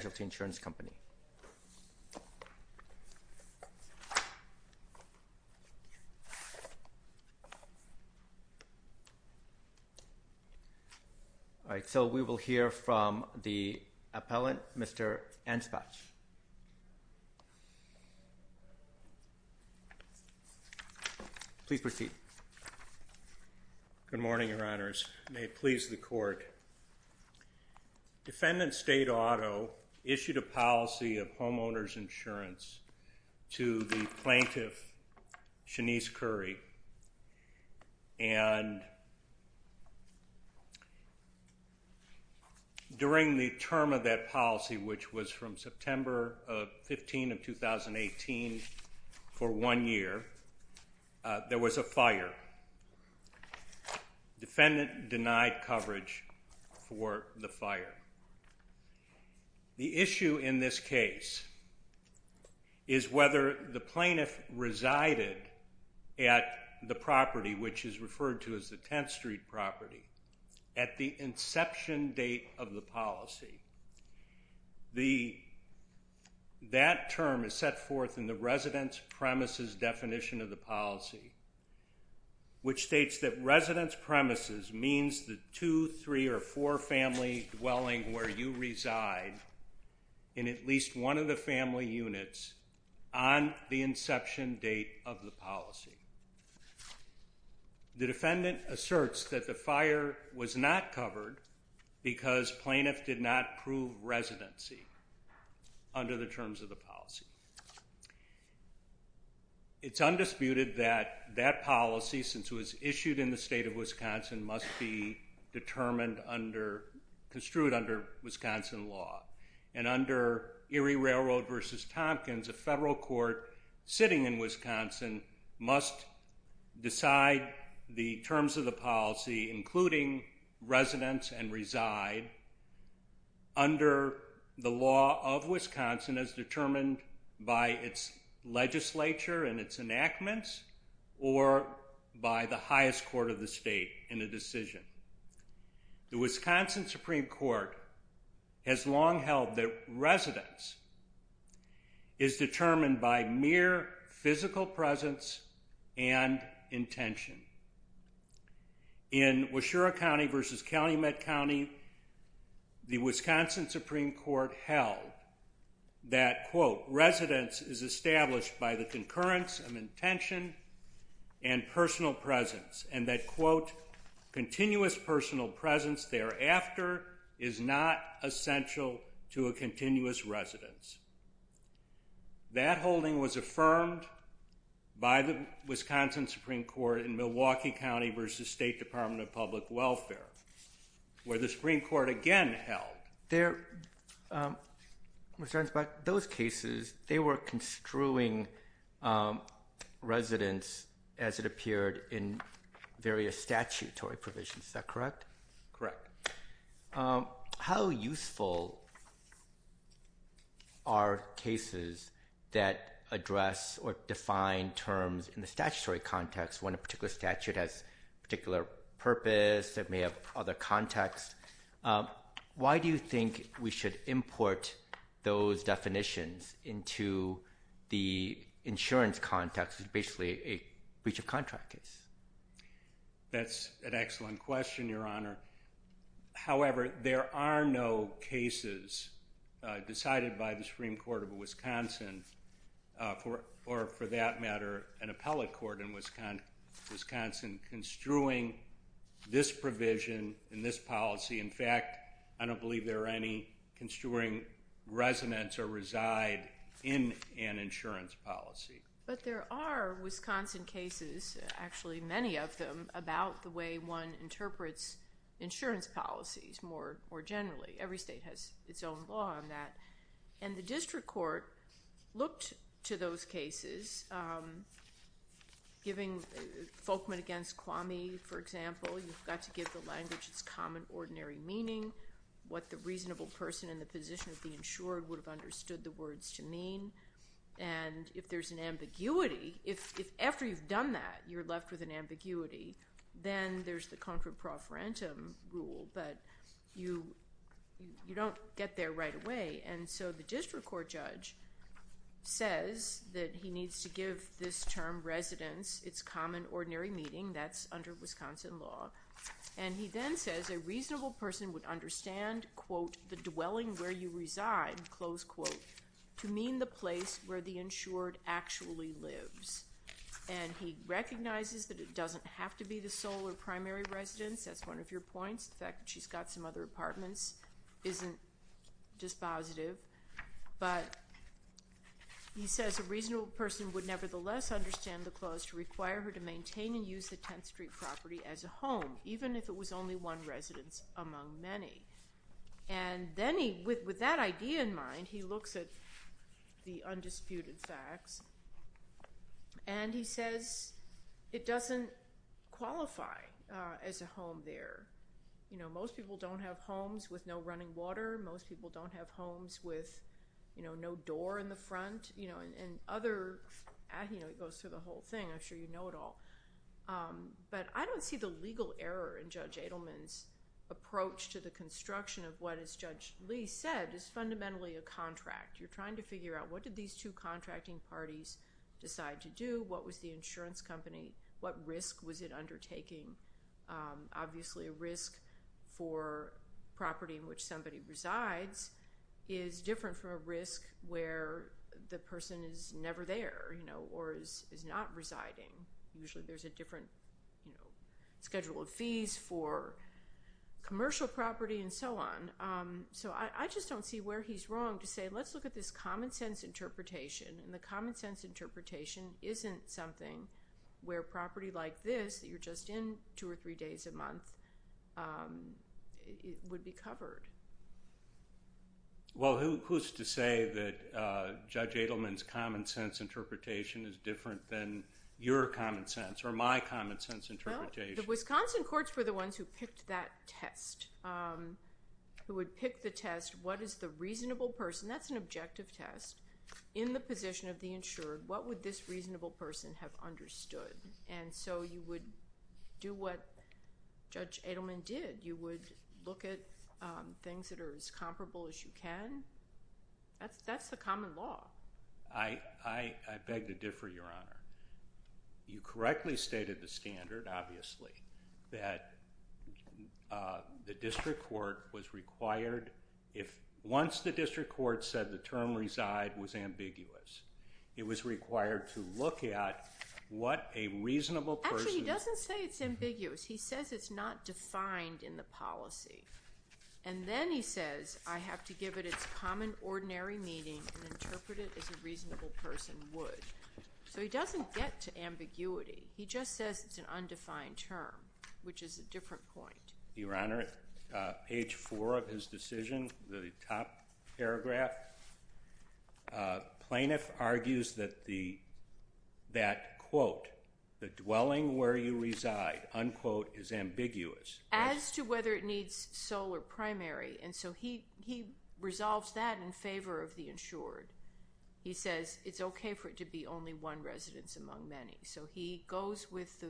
Insurance Company. We will hear from the appellant, Mr. Anspach. Good morning, your honors. May it please the court. Defendant State Auto issued a policy of homeowner's insurance to the plaintiff, Shanice Currie. And during the term of that policy, which was from September 15 of 2018, for one year, there was a fire. Defendant denied coverage for the fire. The issue in this case is whether the plaintiff resided at the property, which is referred to as the 10th Street property, at the inception date of the policy. That term is set forth in the residence premises definition of the policy, which states that residence premises means the two, three, or four family dwelling where you reside in at least one of the family units on the inception date of the policy. The defendant asserts that the fire was not covered because plaintiff did not prove residency under the terms of the policy. It's undisputed that that policy, since it was issued in the state of Wisconsin, must be determined under, construed under Wisconsin law. And under Erie Railroad v. Tompkins, a federal court sitting in Wisconsin must decide the terms of the policy, including residence and reside, under the law of Wisconsin as determined by its legislature and its enactments or by the highest court of the state in a decision. The Wisconsin Supreme Court has long held that residence is determined by mere physical presence and intention. In Washura County v. Calumet County, the Wisconsin Supreme Court held that, quote, residence is established by the concurrence of intention and personal presence, and that, quote, continuous personal presence thereafter is not essential to a continuous residence. That holding was affirmed by the Wisconsin Supreme Court in Milwaukee County v. State Department of Public Welfare, where the Supreme Court again held. There were concerns about those cases. They were construing residence as it appeared in various statutory provisions. Is that correct? Correct. How useful are cases that address or define terms in the statutory context when a particular statute has a particular purpose that may have other context? Why do you think we should import those definitions into the insurance context, which is basically a breach of contract case? That's an excellent question, Your Honor. However, there are no cases decided by the Supreme Court of Wisconsin, or for that matter, an appellate court in Wisconsin, construing this provision in this policy. In fact, I don't believe there are any construing residence or reside in an insurance policy. But there are Wisconsin cases, actually many of them, about the way one interprets insurance policies more generally. Every state has its own law on that. And the district court looked to those cases, giving Folkman v. Kwame, for example. You've got to give the language its common ordinary meaning, what the reasonable person in the position of the insured would have understood the words to mean. And if there's an ambiguity, if after you've done that, you're left with an ambiguity, then there's the contra pro forentum rule. But you don't get there right away. And so the district court judge says that he needs to give this term residence its common ordinary meaning. That's under Wisconsin law. And he then says a reasonable person would understand, quote, the dwelling where you reside, close quote, to mean the place where the insured actually lives. And he recognizes that it doesn't have to be the sole or primary residence. That's one of your points. The fact that she's got some other apartments isn't dispositive. But he says a reasonable person would nevertheless understand the clause to require her to maintain and use the 10th Street property as a home, even if it was only one residence among many. And then with that idea in mind, he looks at the undisputed facts. And he says it doesn't qualify as a home there. Most people don't have homes with no running water. Most people don't have homes with no door in the front. It goes through the whole thing. I'm sure you know it all. But I don't see the legal error in Judge Edelman's approach to the construction of what, as Judge Lee said, is fundamentally a contract. You're trying to figure out what did these two contracting parties decide to do? What was the insurance company? What risk was it undertaking? Obviously, a risk for property in which somebody resides is different from a risk where the person is never there or is not residing. Usually, there's a different schedule of fees for commercial property and so on. So I just don't see where he's wrong to say, let's look at this common sense interpretation. And the common sense interpretation isn't something where property like this that you're just in two or three days a month would be covered. Well, who's to say that Judge Edelman's common sense interpretation is different than your common sense or my common sense interpretation? Well, the Wisconsin courts were the ones who picked that test, who would pick the test, what is the reasonable person? That's an objective test. In the position of the insured, what would this reasonable person have understood? And so you would do what Judge Edelman did. You would look at things that are as comparable as you can. That's the common law. I beg to differ, Your Honor. You correctly stated the standard, obviously, that the district court was required, once the district court said the term reside was ambiguous, it was required to look at what a reasonable person Actually, he doesn't say it's ambiguous. He says it's not defined in the policy. And then he says, I have to give it its common ordinary meaning and interpret it as a reasonable person would. So he doesn't get to ambiguity. He just says it's an undefined term, which is a different point. Your Honor, page four of his decision, the top paragraph, plaintiff argues that the quote, the dwelling where you reside, unquote, is ambiguous. As to whether it needs sole or primary. And so he resolves that in favor of the insured. He says it's okay for it to be only one residence among many. So he goes with the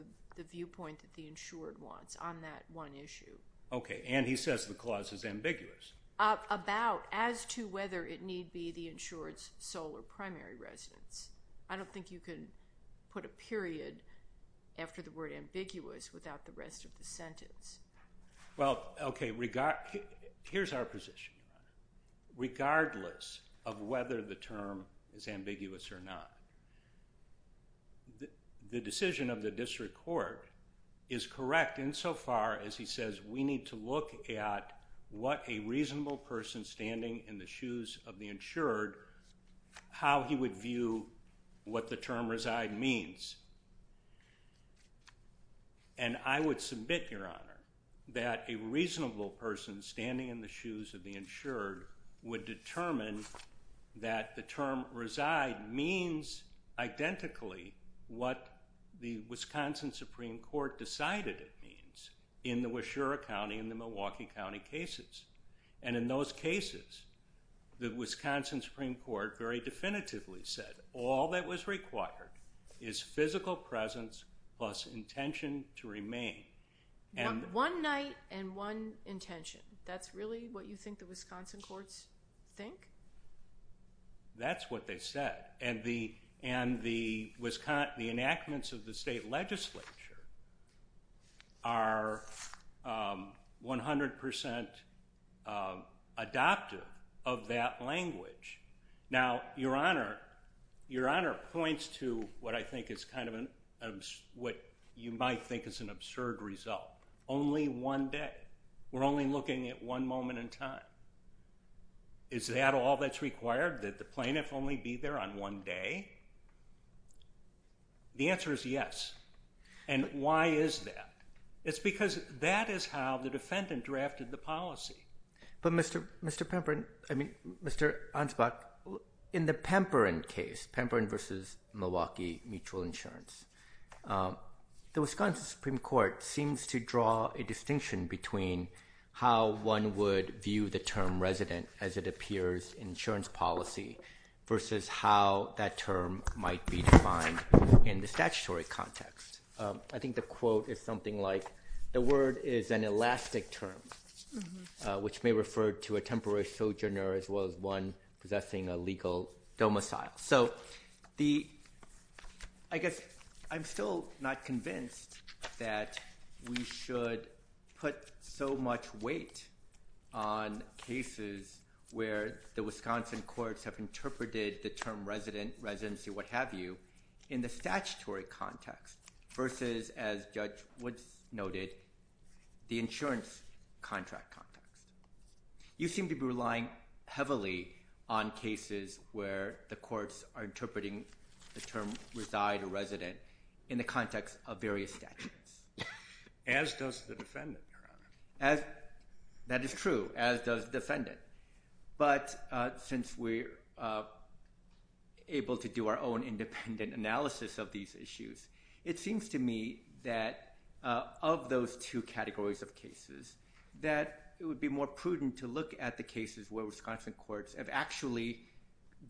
viewpoint that the insured wants on that one issue. Okay. And he says the clause is ambiguous. About as to whether it need be the insured's sole or primary residence. I don't think you can put a period after the word ambiguous without the rest of the sentence. Well, okay. Here's our position. Regardless of whether the term is ambiguous or not. The decision of the district court is correct insofar as he says we need to look at what a reasonable person standing in the shoes of the insured, how he would view what the term reside means. And I would submit, Your Honor, that a reasonable person standing in the shoes of the insured would determine that the term reside means identically what the Wisconsin Supreme Court decided it means in the Weshura County and the Milwaukee County cases. And in those cases, the Wisconsin Supreme Court very definitively said all that was required is physical presence plus intention to remain. One night and one intention. That's really what you think the Wisconsin courts think? That's what they said. And the enactments of the state legislature are 100% adoptive of that language. Now, Your Honor, Your Honor points to what I think is kind of what you might think is an absurd result. Only one day. We're only looking at one moment in time. Is that all that's required? That the plaintiff only be there on one day? The answer is yes. And why is that? It's because that is how the defendant drafted the policy. But, Mr. Pemperin, I mean, Mr. Ansbach, in the Pemperin case, Pemperin versus Milwaukee Mutual Insurance, the Wisconsin Supreme Court seems to draw a distinction between how one would view the term resident as it appears in insurance policy versus how that term might be defined in the statutory context. I think the quote is something like, the word is an elastic term, which may refer to a temporary sojourner as well as one possessing a legal domicile. So I guess I'm still not convinced that we should put so much weight on cases where the Wisconsin courts have interpreted the term resident, residency, what have you, in the statutory context versus, as Judge Woods noted, the insurance contract context. You seem to be relying heavily on cases where the courts are interpreting the term reside or resident in the context of various statutes. As does the defendant, Your Honor. That is true, as does the defendant. But since we're able to do our own independent analysis of these issues, it seems to me that of those two categories of cases, that it would be more prudent to look at the cases where Wisconsin courts have actually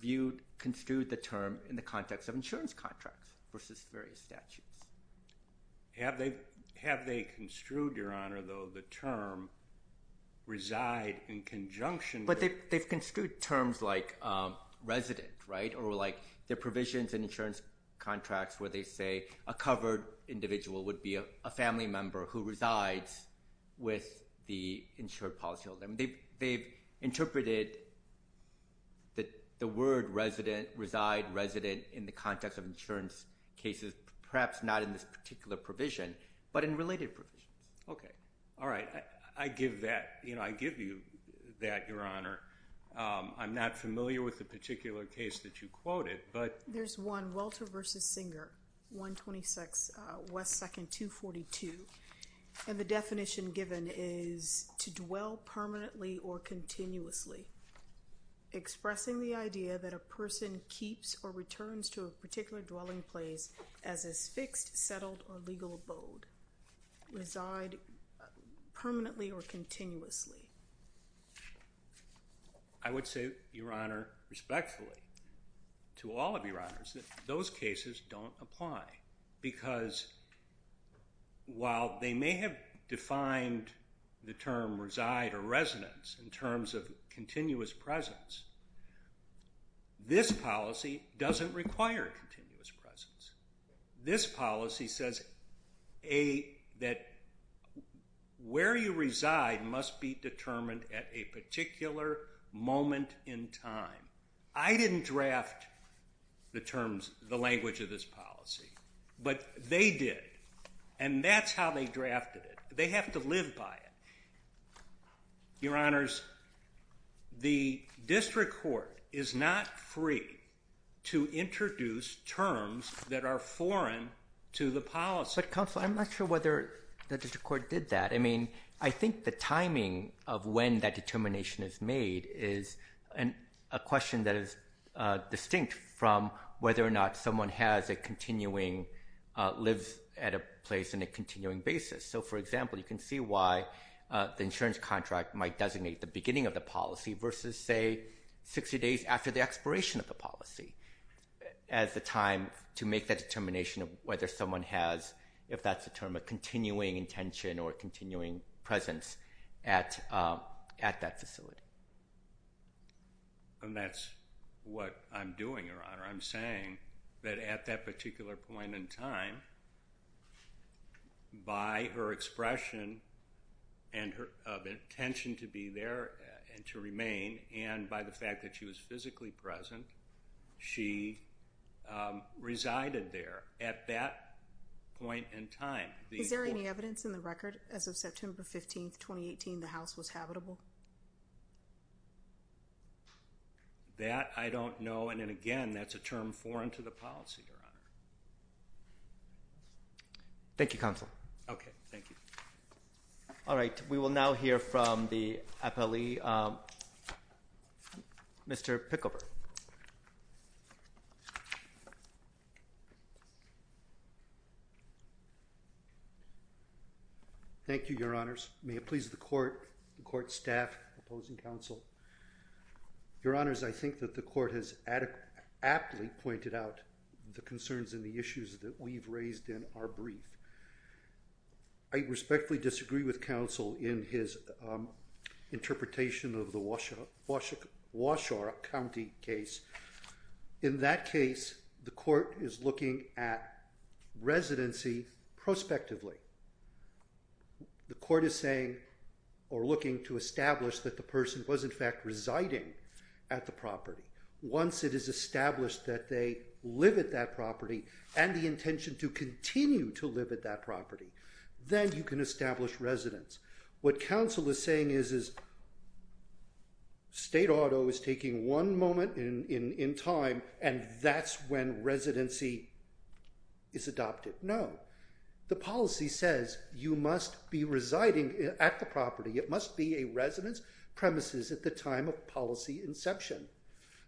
viewed, construed the term in the context of insurance contracts versus various statutes. Have they construed, Your Honor, though, the term reside in conjunction with... But they've construed terms like resident, right, or like the provisions in insurance contracts where they say a covered individual would be a family member who resides with the insured policyholder. They've interpreted the word reside, resident, in the context of insurance cases, perhaps not in this particular provision, but in related provisions. Okay. All right. I give you that, Your Honor. I'm not familiar with the particular case that you quoted, but... There's one, Welter v. Singer, 126 West 2nd, 242, and the definition given is to dwell permanently or continuously, expressing the idea that a person keeps or returns to a particular dwelling place as a fixed, settled, or legal abode, reside permanently or continuously. I would say, Your Honor, respectfully to all of Your Honors, that those cases don't apply because while they may have defined the term reside or residence in terms of continuous presence, this policy doesn't require continuous presence. This policy says that where you reside must be determined at a particular moment in time. I didn't draft the language of this policy, but they did, and that's how they drafted it. They have to live by it. Your Honors, the district court is not free to introduce terms that are foreign to the policy. But, Counselor, I'm not sure whether the district court did that. I mean, I think the timing of when that determination is made is a question that is distinct from whether or not someone lives at a place on a continuing basis. So, for example, you can see why the insurance contract might designate the beginning of the policy versus, say, 60 days after the expiration of the policy as the time to make that determination of whether someone has, if that's a term of continuing intention or continuing presence at that facility. Your Honor, I'm saying that at that particular point in time, by her expression of intention to be there and to remain, and by the fact that she was physically present, she resided there at that point in time. Is there any evidence in the record as of September 15, 2018, the house was habitable? That, I don't know. And, again, that's a term foreign to the policy, Your Honor. Thank you, Counsel. Okay. Thank you. All right. We will now hear from the appellee, Mr. Pickleberg. Thank you, Your Honors. May it please the court, the court staff, opposing counsel. Your Honors, I think that the court has aptly pointed out the concerns and the issues that we've raised in our brief. I respectfully disagree with counsel in his interpretation of the Washoe County case. In that case, the court is looking at residency prospectively. The court is saying or looking to establish that the person was, in fact, residing at the property. Once it is established that they live at that property and the intention to continue to live at that property, then you can establish residence. What counsel is saying is state auto is taking one moment in time, and that's when residency is adopted. No. The policy says you must be residing at the property. It must be a residence premises at the time of policy inception.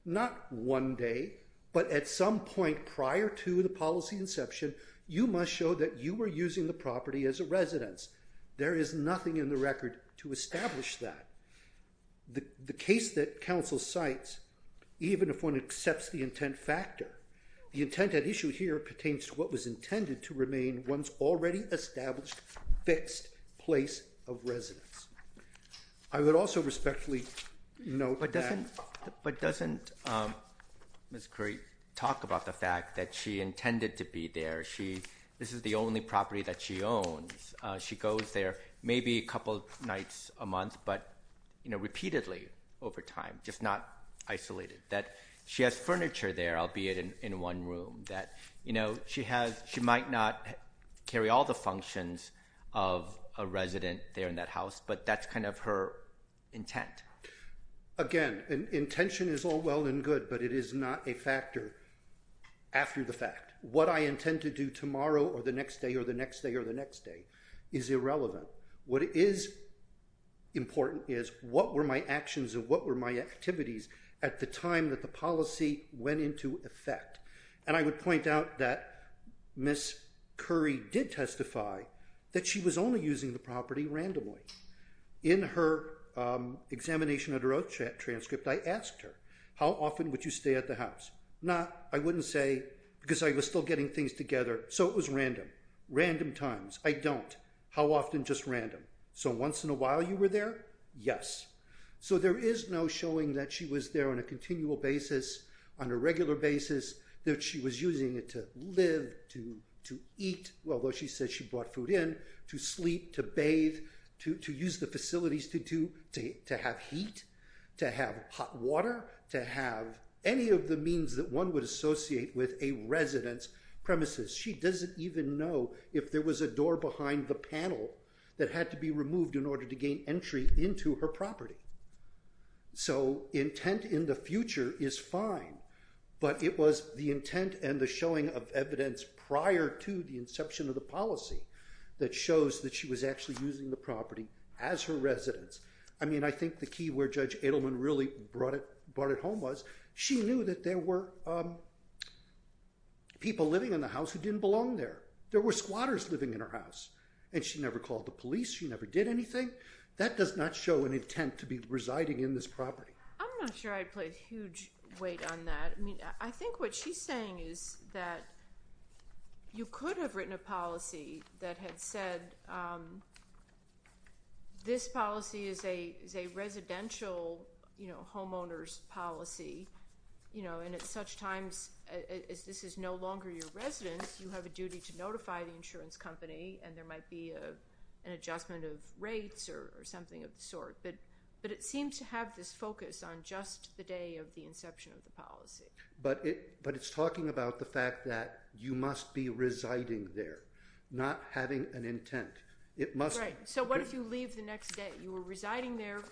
Not one day, but at some point prior to the policy inception, you must show that you were using the property as a residence. There is nothing in the record to establish that. The case that counsel cites, even if one accepts the intent factor, the intent at issue here pertains to what was intended to remain one's already established fixed place of residence. I would also respectfully note that. But doesn't Ms. Curry talk about the fact that she intended to be there? This is the only property that she owns. She goes there maybe a couple nights a month, but repeatedly over time, just not isolated. She has furniture there, albeit in one room. She might not carry all the functions of a resident there in that house, but that's kind of her intent. Again, intention is all well and good, but it is not a factor after the fact. What I intend to do tomorrow or the next day or the next day or the next day is irrelevant. What is important is what were my actions and what were my activities at the time that the policy went into effect. I would point out that Ms. Curry did testify that she was only using the property randomly. In her examination of her oath transcript, I asked her, how often would you stay at the house? Not, I wouldn't say, because I was still getting things together. So it was random. Random times. I don't. How often, just random. So once in a while you were there? Yes. So there is no showing that she was there on a continual basis, on a regular basis, that she was using it to live, to eat, although she said she brought food in, to sleep, to bathe, to use the facilities to have heat, to have hot water, to have any of the means that one would associate with a resident's premises. She doesn't even know if there was a door behind the panel that had to be So intent in the future is fine, but it was the intent and the showing of evidence prior to the inception of the policy that shows that she was actually using the property as her residence. I mean, I think the key where Judge Edelman really brought it home was she knew that there were people living in the house who didn't belong there. There were squatters living in her house, and she never called the police, she never did anything. That does not show an intent to be residing in this property. I'm not sure I'd put a huge weight on that. I think what she's saying is that you could have written a policy that had said this policy is a residential homeowner's policy, and at such times as this is no longer your residence, you have a duty to notify the insurance company, and there might be an adjustment of rates or something of the sort. But it seems to have this focus on just the day of the inception of the policy. But it's talking about the fact that you must be residing there, not having an intent. Right. So what if you leave the next day? You were residing there,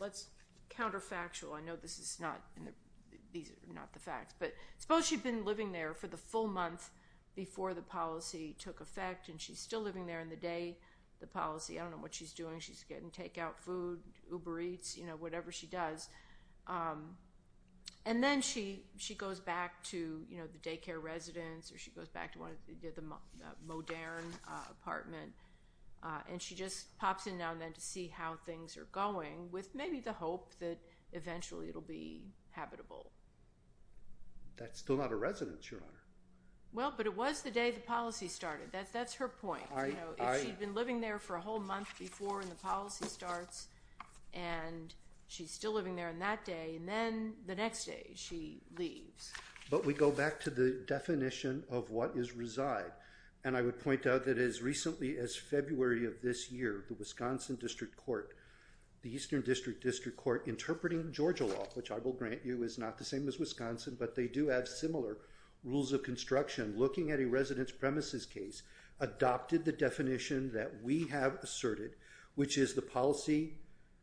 let's counterfactual. I know this is not the facts, but suppose she'd been living there for the full month before the policy took effect, and she's still living there in the day, the policy. I don't know what she's doing. She's getting takeout food, Uber Eats, whatever she does. And then she goes back to the daycare residence, or she goes back to the Moderne apartment, and she just pops in now and then to see how things are going, with maybe the hope that eventually it will be habitable. That's still not a residence, Your Honor. Well, but it was the day the policy started. That's her point. If she'd been living there for a whole month before the policy starts, and she's still living there on that day, and then the next day she leaves. But we go back to the definition of what is reside. And I would point out that as recently as February of this year, the Wisconsin District Court, the Eastern District District Court, interpreting Georgia Law, which I will grant you is not the same as Wisconsin, but they do have similar rules of construction, looking at a residence premises case, adopted the definition that we have asserted, which is the policy,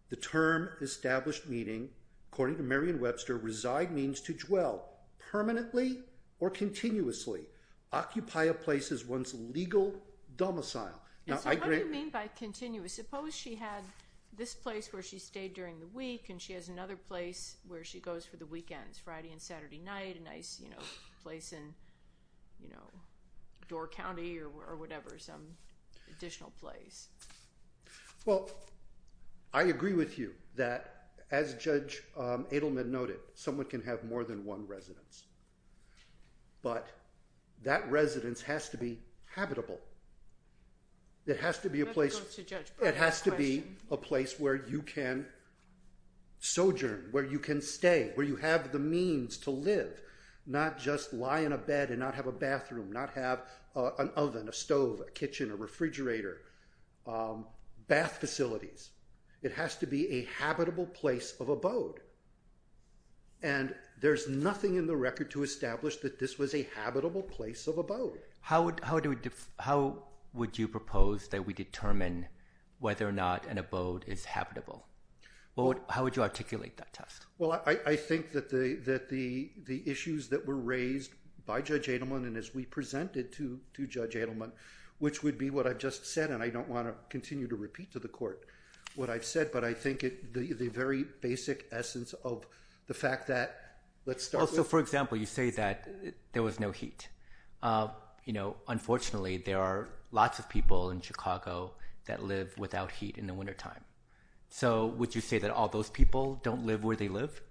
the term established meaning, according to Marion Webster, reside means to dwell permanently or continuously, occupy a place as one's legal domicile. And so what do you mean by continuous? Suppose she had this place where she stayed during the week, and she has another place where she goes for the weekends, Friday and Saturday night, a nice place in Door County or whatever, some additional place. Well, I agree with you that as Judge Adelman noted, someone can have more than one residence. But that residence has to be habitable. It has to be a place. It has to be a place where you can sojourn, where you can stay, where you have the means to live, not just lie in a bed and not have a bathroom, not have an oven, a stove, a kitchen, a refrigerator, bath facilities. It has to be a habitable place of abode. And there's nothing in the record to establish that this was a habitable place of abode. How would you propose that we determine whether or not an abode is habitable? How would you articulate that test? Well, I think that the issues that were raised by Judge Adelman and as we presented to Judge Adelman, which would be what I've just said, and I don't want to continue to repeat to the court what I've said, but I think the very basic essence of the fact that let's start with— unfortunately, there are lots of people in Chicago that live without heat in the wintertime. So would you say that all those people don't live where they live?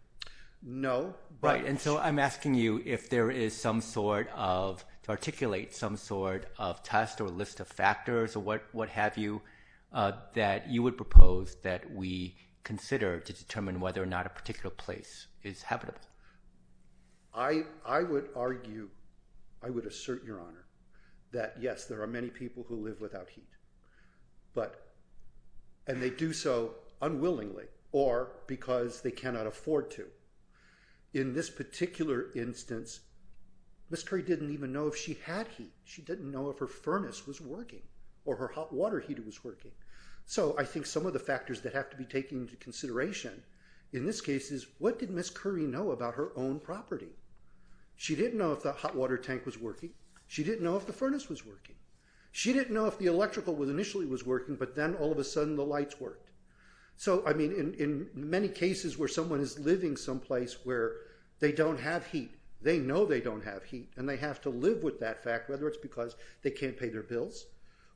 No. Right, and so I'm asking you if there is some sort of—to articulate some sort of test or list of factors or what have you that you would propose that we consider to determine whether or not a particular place is habitable. I would argue—I would assert, Your Honor, that yes, there are many people who live without heat, and they do so unwillingly or because they cannot afford to. In this particular instance, Ms. Curry didn't even know if she had heat. She didn't know if her furnace was working or her hot water heater was working. So I think some of the factors that have to be taken into consideration in this case is what did Ms. Curry know about her own property? She didn't know if the hot water tank was working. She didn't know if the furnace was working. She didn't know if the electrical initially was working, but then all of a sudden the lights worked. So, I mean, in many cases where someone is living someplace where they don't have heat, they know they don't have heat, and they have to live with that fact, whether it's because they can't pay their bills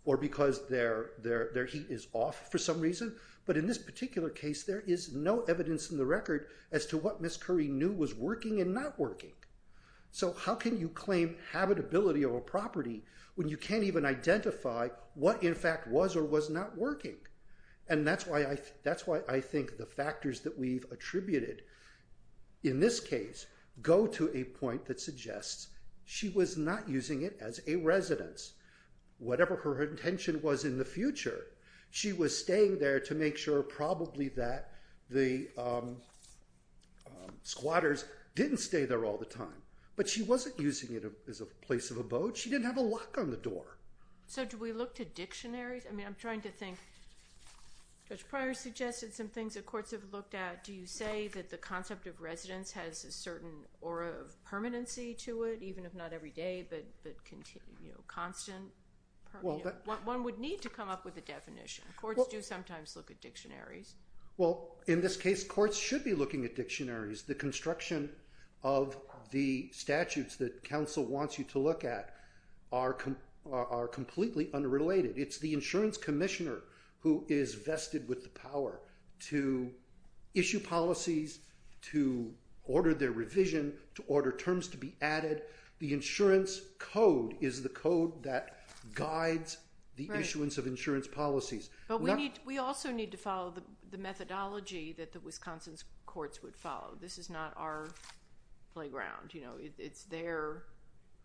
or because their heat is off for some reason. But in this particular case, there is no evidence in the record as to what Ms. Curry knew was working and not working. So how can you claim habitability of a property when you can't even identify what in fact was or was not working? And that's why I think the factors that we've attributed in this case go to a point that suggests she was not using it as a residence. Whatever her intention was in the future, she was staying there to make sure probably that the squatters didn't stay there all the time. But she wasn't using it as a place of abode. She didn't have a lock on the door. So do we look to dictionaries? I mean, I'm trying to think. Judge Pryor suggested some things that courts have looked at. Do you say that the concept of residence has a certain aura of permanency to it, even if not every day, but constant? One would need to come up with a definition. Courts do sometimes look at dictionaries. Well, in this case, courts should be looking at dictionaries. The construction of the statutes that counsel wants you to look at are completely unrelated. It's the insurance commissioner who is vested with the power to issue policies, to order their revision, to order terms to be added. The insurance code is the code that guides the issuance of insurance policies. But we also need to follow the methodology that the Wisconsin courts would follow. This is not our playground. It's their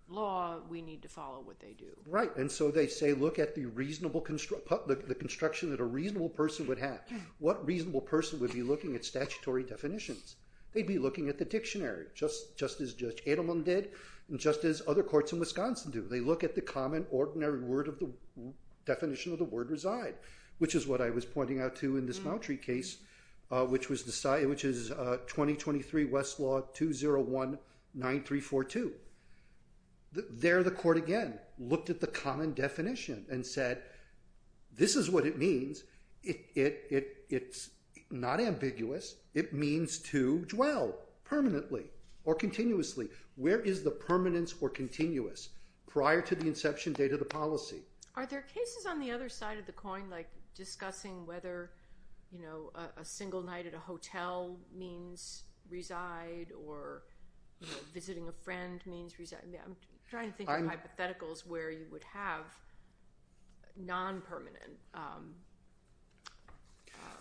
law. We need to follow what they do. Right, and so they say look at the construction that a reasonable person would have. What reasonable person would be looking at statutory definitions? They'd be looking at the dictionary, just as Judge Adelman did. Just as other courts in Wisconsin do. They look at the common ordinary definition of the word reside, which is what I was pointing out to in this Mountry case, which is 2023 Westlaw 201-9342. There the court again looked at the common definition and said this is what it means. It's not ambiguous. It means to dwell permanently or continuously. Where is the permanence or continuous prior to the inception date of the policy? Are there cases on the other side of the coin, like discussing whether a single night at a hotel means reside or visiting a friend means reside? I'm trying to think of hypotheticals where you would have non-permanent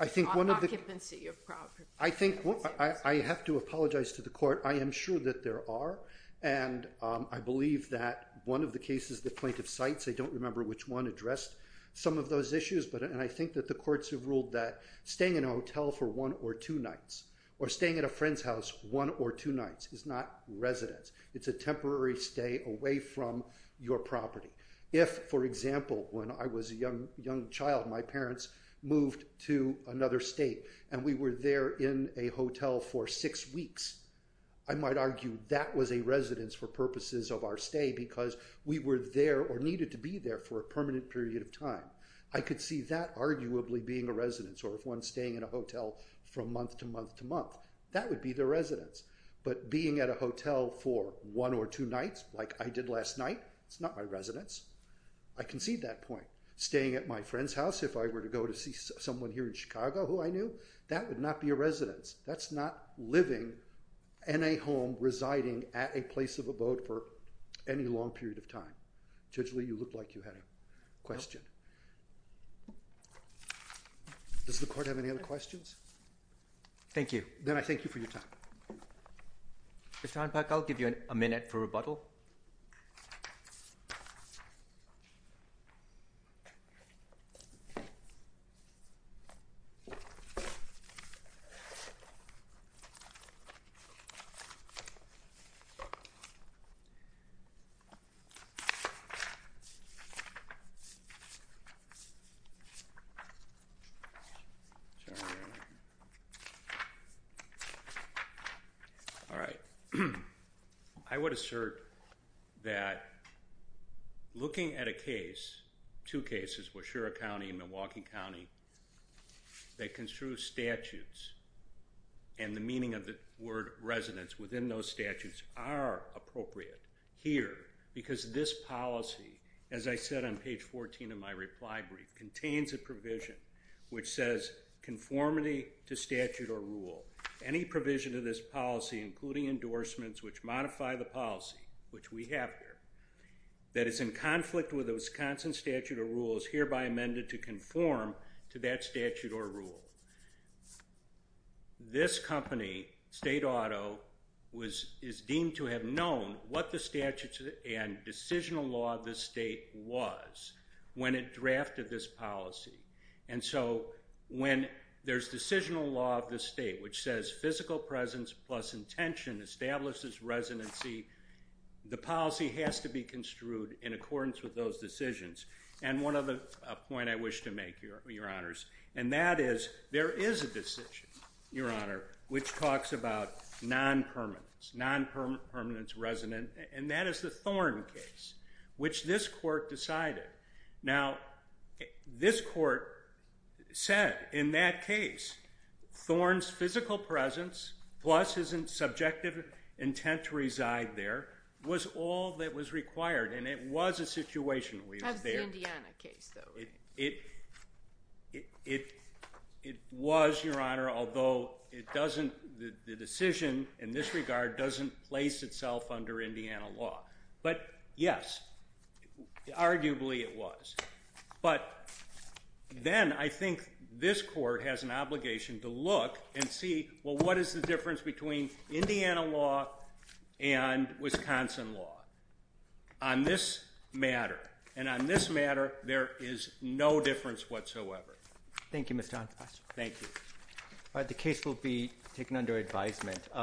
occupancy. I have to apologize to the court. I am sure that there are. I believe that one of the cases the plaintiff cites, I don't remember which one addressed some of those issues. I think that the courts have ruled that staying in a hotel for one or two nights or staying at a friend's house one or two nights is not residence. It's a temporary stay away from your property. If, for example, when I was a young child, my parents moved to another state and we were there in a hotel for six weeks, I might argue that was a residence for purposes of our stay because we were there or needed to be there for a permanent period of time. I could see that arguably being a residence or one staying in a hotel from month to month to month. That would be the residence. But being at a hotel for one or two nights like I did last night, it's not my residence. I can see that point. Staying at my friend's house, if I were to go to see someone here in Chicago who I knew, that would not be a residence. That's not living in a home, residing at a place of a vote for any long period of time. Judge Lee, you look like you had a question. Does the court have any other questions? Thank you. Then I thank you for your time. Mr. Honpak, I'll give you a minute for rebuttal. All right. I would assert that looking at a case, two cases, Washura County and Milwaukee County, they construe statutes and the meaning of the word residence within those statutes are appropriate here because this policy, as I said on page 14 of my reply brief, contains a provision which says conformity to statute or rule. Any provision of this policy, including endorsements, which modify the policy, which we have here, that is in conflict with the Wisconsin statute or rule is hereby amended to conform to that statute or rule. This company, State Auto, is deemed to have known what the statutes and decisional law of this state was when it drafted this policy. When there's decisional law of this state, which says physical presence plus intention establishes residency, the policy has to be construed in accordance with those decisions. One other point I wish to make, Your Honors, and that is there is a decision, Your Honor, which talks about non-permanence, non-permanence resident, and that is the Thorn case, which this court decided. Now, this court said in that case Thorn's physical presence plus his subjective intent to reside there was all that was required, and it was a situation where he was there. How's the Indiana case, though? It was, Your Honor, although the decision in this regard doesn't place itself under Indiana law. But, yes, arguably it was. But then I think this court has an obligation to look and see, well, what is the difference between Indiana law and Wisconsin law on this matter? And on this matter, there is no difference whatsoever. Thank you, Mr. Antos. Thank you. The case will be taken under advisement.